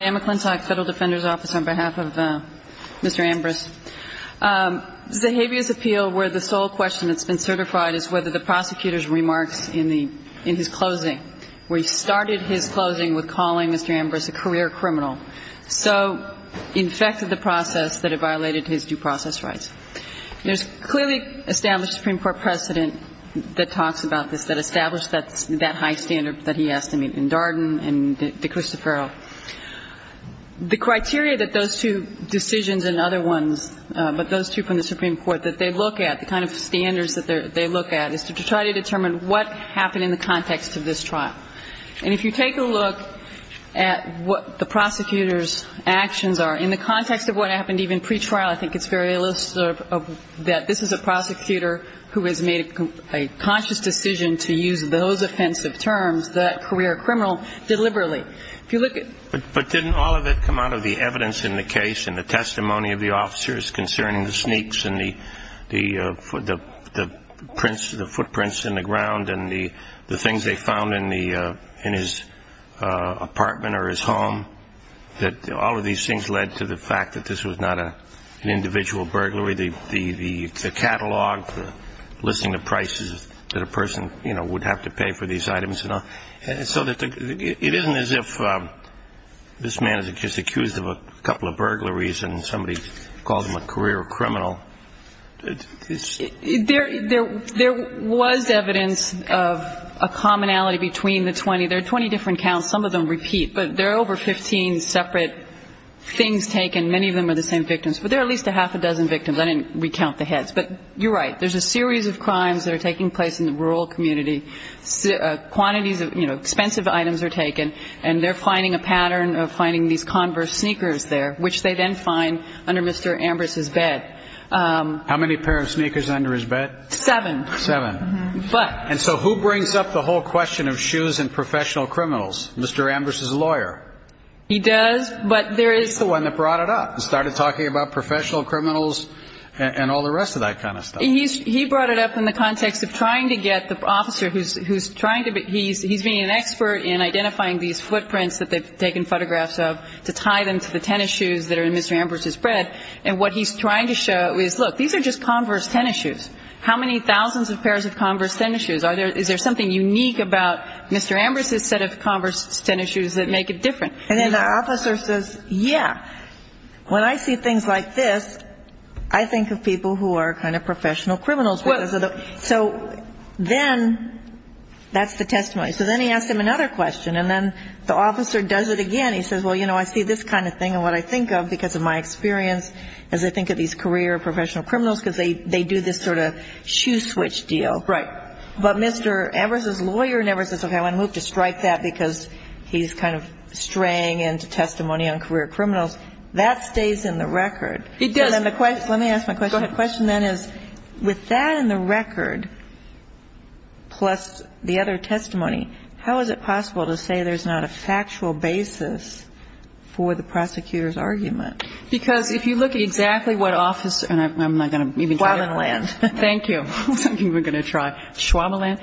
Federal Defender's Office on behalf of Mr. Ambris. Zahavia's appeal where the sole question that's been certified is whether the prosecutor's remarks in his closing, where he started his closing with calling Mr. Ambris a career criminal, so infected the process that it violated his due process rights. There's clearly established Supreme Court precedent that talks about this, that established that high standard that he has to meet in Darden and De Cristofero. The criteria that those two decisions and other ones, but those two from the Supreme Court that they look at, the kind of standards that they look at, is to try to determine what happened in the context of this trial. And if you take a look at what the prosecutor's actions are in the context of what happened even pretrial, I think it's very illicit that this is a prosecutor who has made a conscious decision to use those offensive terms, that career criminal, deliberately. If you look at But didn't all of it come out of the evidence in the case and the testimony of the officers concerning the sneaks and the footprints in the ground and the things they found in his apartment or his home, that all of these things led to the fact that this was not an individual burglary, the catalog, the listing of prices that a person, you know, would have to pay for these items and all. So it isn't as if this man is just accused of a couple of burglaries and somebody calls him a career criminal. There was evidence of a commonality between the 20. There are 20 different counts. Some of them repeat. But there are over 15 separate things taken. Many of them are the same victims. But there are at least a half a dozen victims. I didn't recount the heads. But you're right. There's a series of crimes that are taking place in the rural community. Quantities of expensive items are taken. And they're finding a pattern of finding these converse sneakers there, which they then find under Mr. Ambrose's bed. How many pairs of sneakers under his bed? Seven. Seven. But And so who brings up the whole question of shoes and professional criminals? Mr. Ambrose's lawyer. He does, but there is He's the one that brought it up and started talking about professional criminals and all the rest of that kind of stuff. He brought it up in the context of trying to get the officer who's trying to be, he's being an expert in identifying these footprints that they've taken photographs of to tie them to the tennis shoes that are in Mr. Ambrose's bed. And what he's trying to show is, look, these are just converse tennis shoes. How many thousands of pairs of converse tennis shoes? Is there something unique about Mr. Ambrose's set of converse tennis shoes that make it different? And then the officer says, yeah, when I see things like this, I think of people who are kind of professional criminals. So then that's the testimony. So then he asked him another question. And then the officer does it again. He says, well, you know, I see this kind of thing and what I think of because of my experience as I think of these career professional criminals, because they do this sort of shoe switch deal. But Mr. Ambrose's lawyer never says, okay, I'm going to move to strike that because he's kind of straying into testimony on career criminals. That stays in the record. It does. Let me ask my question. Go ahead. My question then is, with that in the record, plus the other testimony, how is it possible to say there's not a factual basis for the prosecutor's argument? Because if you look at exactly what officer, and I'm not going to even try to quote. Schwabeland. Thank you. I'm not even going to try. Schwabeland.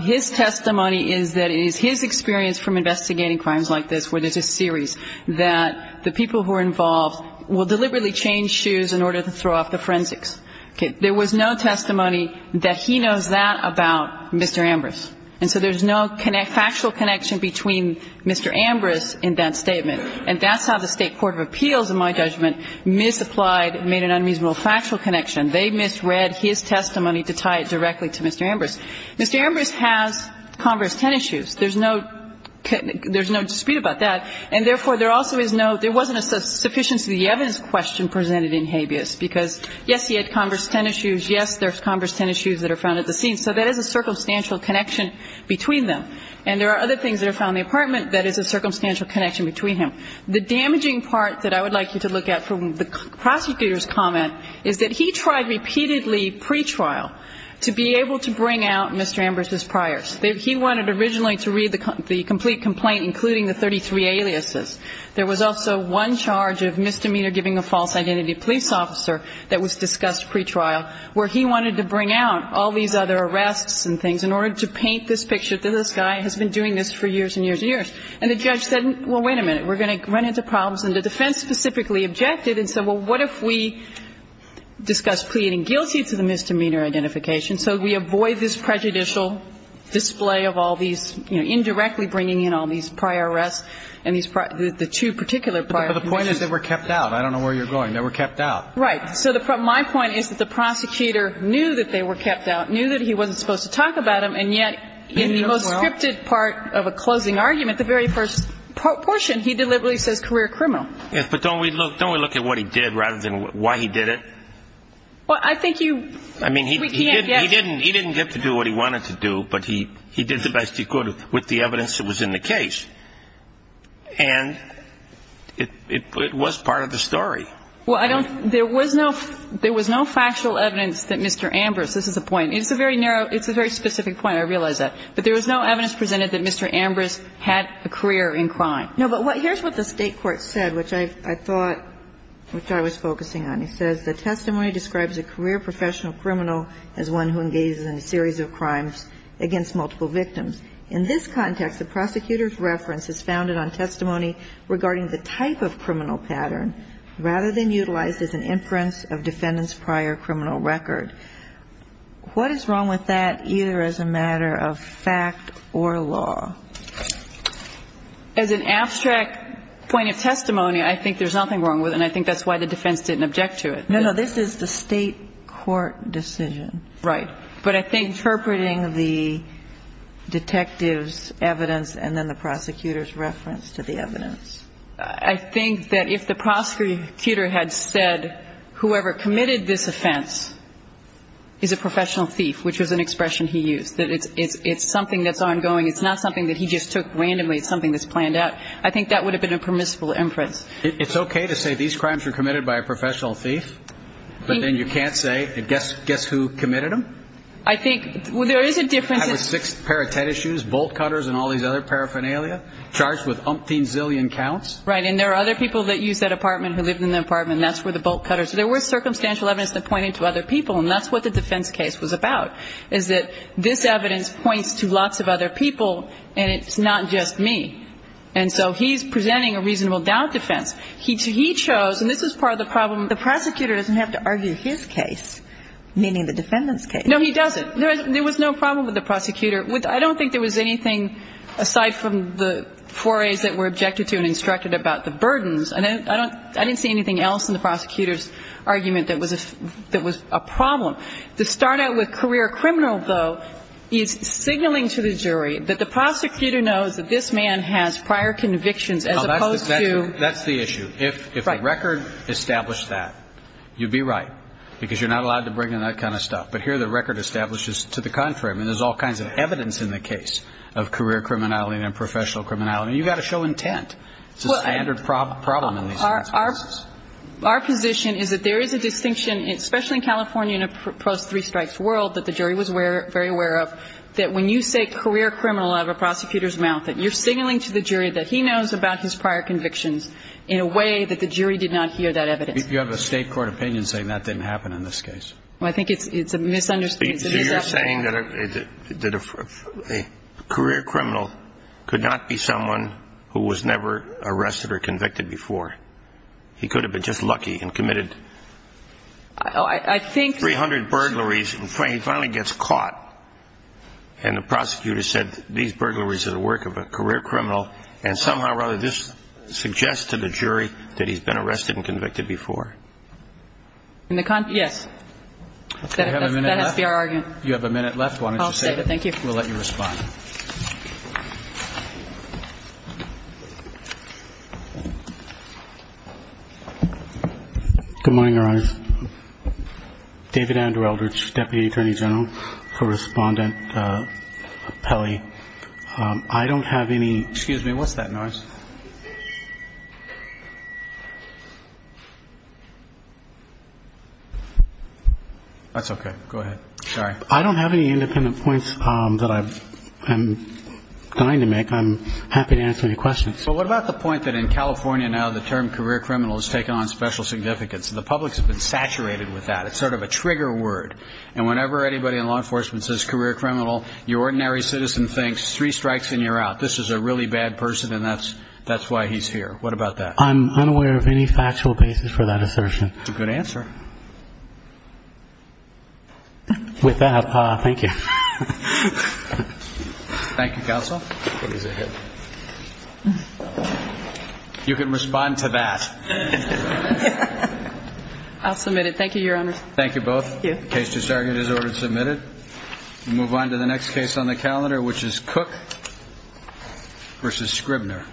His testimony is that it is his experience from investigating crimes like this where there's a series that the people who are involved will deliberately change shoes in order to throw off the forensics. Okay. There was no testimony that he knows that about Mr. Ambrose. And so there's no factual connection between Mr. Ambrose in that statement. And that's how the State Court of Appeals, in my judgment, misapplied, made an unreasonable factual connection. They misread his testimony to tie it directly to Mr. Ambrose. Mr. Ambrose has Converse 10 issues. There's no dispute about that. And therefore, there also is no – there wasn't a sufficiency of the evidence question presented in habeas, because, yes, he had Converse 10 issues. Yes, there's Converse 10 issues that are found at the scene. So there is a circumstantial connection between them. And there are other things that are found in the apartment that is a circumstantial connection between them. The damaging part that I would like you to look at from the prosecutor's comment is that he tried repeatedly pretrial to be able to bring out Mr. Ambrose's priors. He wanted originally to read the complete complaint, including the 33 aliases. There was also one charge of misdemeanor giving a false identity police officer that was discussed pretrial, where he wanted to bring out all these other arrests and things in order to paint this picture that this guy has been doing this for years and years and years. And the judge said, well, wait a minute. We're going to run into problems. And the defense specifically objected and said, well, what if we discuss pleading guilty to the misdemeanor identification so we avoid this prejudicial display of all these, you know, indirectly bringing in all these prior arrests and these prior – the two particular prior convictions? But the point is they were kept out. I don't know where you're going. They were kept out. Right. So my point is that the prosecutor knew that they were kept out, knew that he wasn't supposed to talk about them, and yet in the most scripted part of a closing argument, the very first portion, he deliberately says career criminal. Yes, but don't we look at what he did rather than why he did it? Well, I think you – I mean, he didn't get to do what he wanted to do, but he did the best he could with the evidence that was in the case. And it was part of the story. Well, I don't – there was no factual evidence that Mr. Ambrose – this is a point. It's a very narrow – it's a very specific point. I realize that. But there was no factual evidence that he was a career in crime. No, but here's what the state court said, which I thought – which I was focusing on. It says, The testimony describes a career professional criminal as one who engages in a series of crimes against multiple victims. In this context, the prosecutor's reference is founded on testimony regarding the type of criminal pattern rather than utilized as an inference of defendant's prior criminal record. What is wrong with that either as a matter of fact or law? As an abstract point of testimony, I think there's nothing wrong with it, and I think that's why the defense didn't object to it. No, no. This is the state court decision. Right. But I think – Interpreting the detective's evidence and then the prosecutor's reference to the evidence. I think that if the prosecutor had said, whoever committed this offense is a professional thief, which was an expression he used, that it's something that's ongoing. It's not something that he just took randomly. It's something that's planned out. I think that would have been a permissible inference. It's okay to say these crimes were committed by a professional thief, but then you can't say, guess who committed them? I think – well, there is a difference in – I have a sixth pair of tennis shoes, bolt cutters, and all these other paraphernalia charged with umpteen zillion counts. Right. And there are other people that use that apartment, who lived in that apartment, and that's where the bolt cutters – there were circumstantial evidence that pointed to other people, and that's what the defense case was about, is that this evidence points to lots of other people, and it's not just me. And so he's presenting a reasonable doubt defense. He chose – and this is part of the problem. The prosecutor doesn't have to argue his case, meaning the defendant's case. No, he doesn't. There was no problem with the prosecutor. I don't think there was anything, aside from the forays that were objected to and instructed about the burdens – I didn't see anything else in the prosecutor's argument that was a problem. The start-out with career criminal, though, is signaling to the jury that the prosecutor knows that this man has prior convictions, as opposed to – No, that's the issue. If the record established that, you'd be right, because you're not allowed to bring in that kind of stuff. But here the record establishes to the contrary. I mean, there's all kinds of evidence in the case of career criminality and unprofessional criminality, and you've got to show intent. It's a standard problem in these cases. Our position is that there is a distinction, especially in California in a post-three-strikes world that the jury was very aware of, that when you say career criminal out of a prosecutor's mouth, that you're signaling to the jury that he knows about his prior convictions in a way that the jury did not hear that evidence. You have a State court opinion saying that didn't happen in this case. Well, I think it's a misunderstanding. So you're saying that a career criminal could not be someone who was never arrested or convicted before. He could have been just lucky and committed 300 burglaries and finally gets caught, and the prosecutor said these burglaries are the work of a career criminal, and somehow or other this suggests to the jury that he's been arrested and convicted before. Yes. Okay. Do we have a minute left? That has to be our argument. You have a minute left. Why don't you save it? I'll save it. Thank you. We'll let you respond. Good morning, Your Honors. David Andrew Eldridge, Deputy Attorney General for Respondent Pelley. I don't have any Excuse me. What's that noise? That's okay. Go ahead. Sorry. I don't have any independent points that I'm trying to make. I'm happy to answer any questions. Well, what about the point that in California now the term career criminal has taken on special significance? The public has been saturated with that. It's sort of a trigger word. And whenever anybody in law enforcement says career criminal, your ordinary citizen thinks three strikes and you're out. This is a really bad person, and that's why he's here. What about that? I'm unaware of any factual basis for that assertion. That's a good answer. With that, thank you. Thank you, Counsel. You can respond to that. I'll submit it. Thank you, Your Honors. Thank you both. The case to start is ordered submitted. We move on to the next case on the calendar, which is Cook v. Scribner.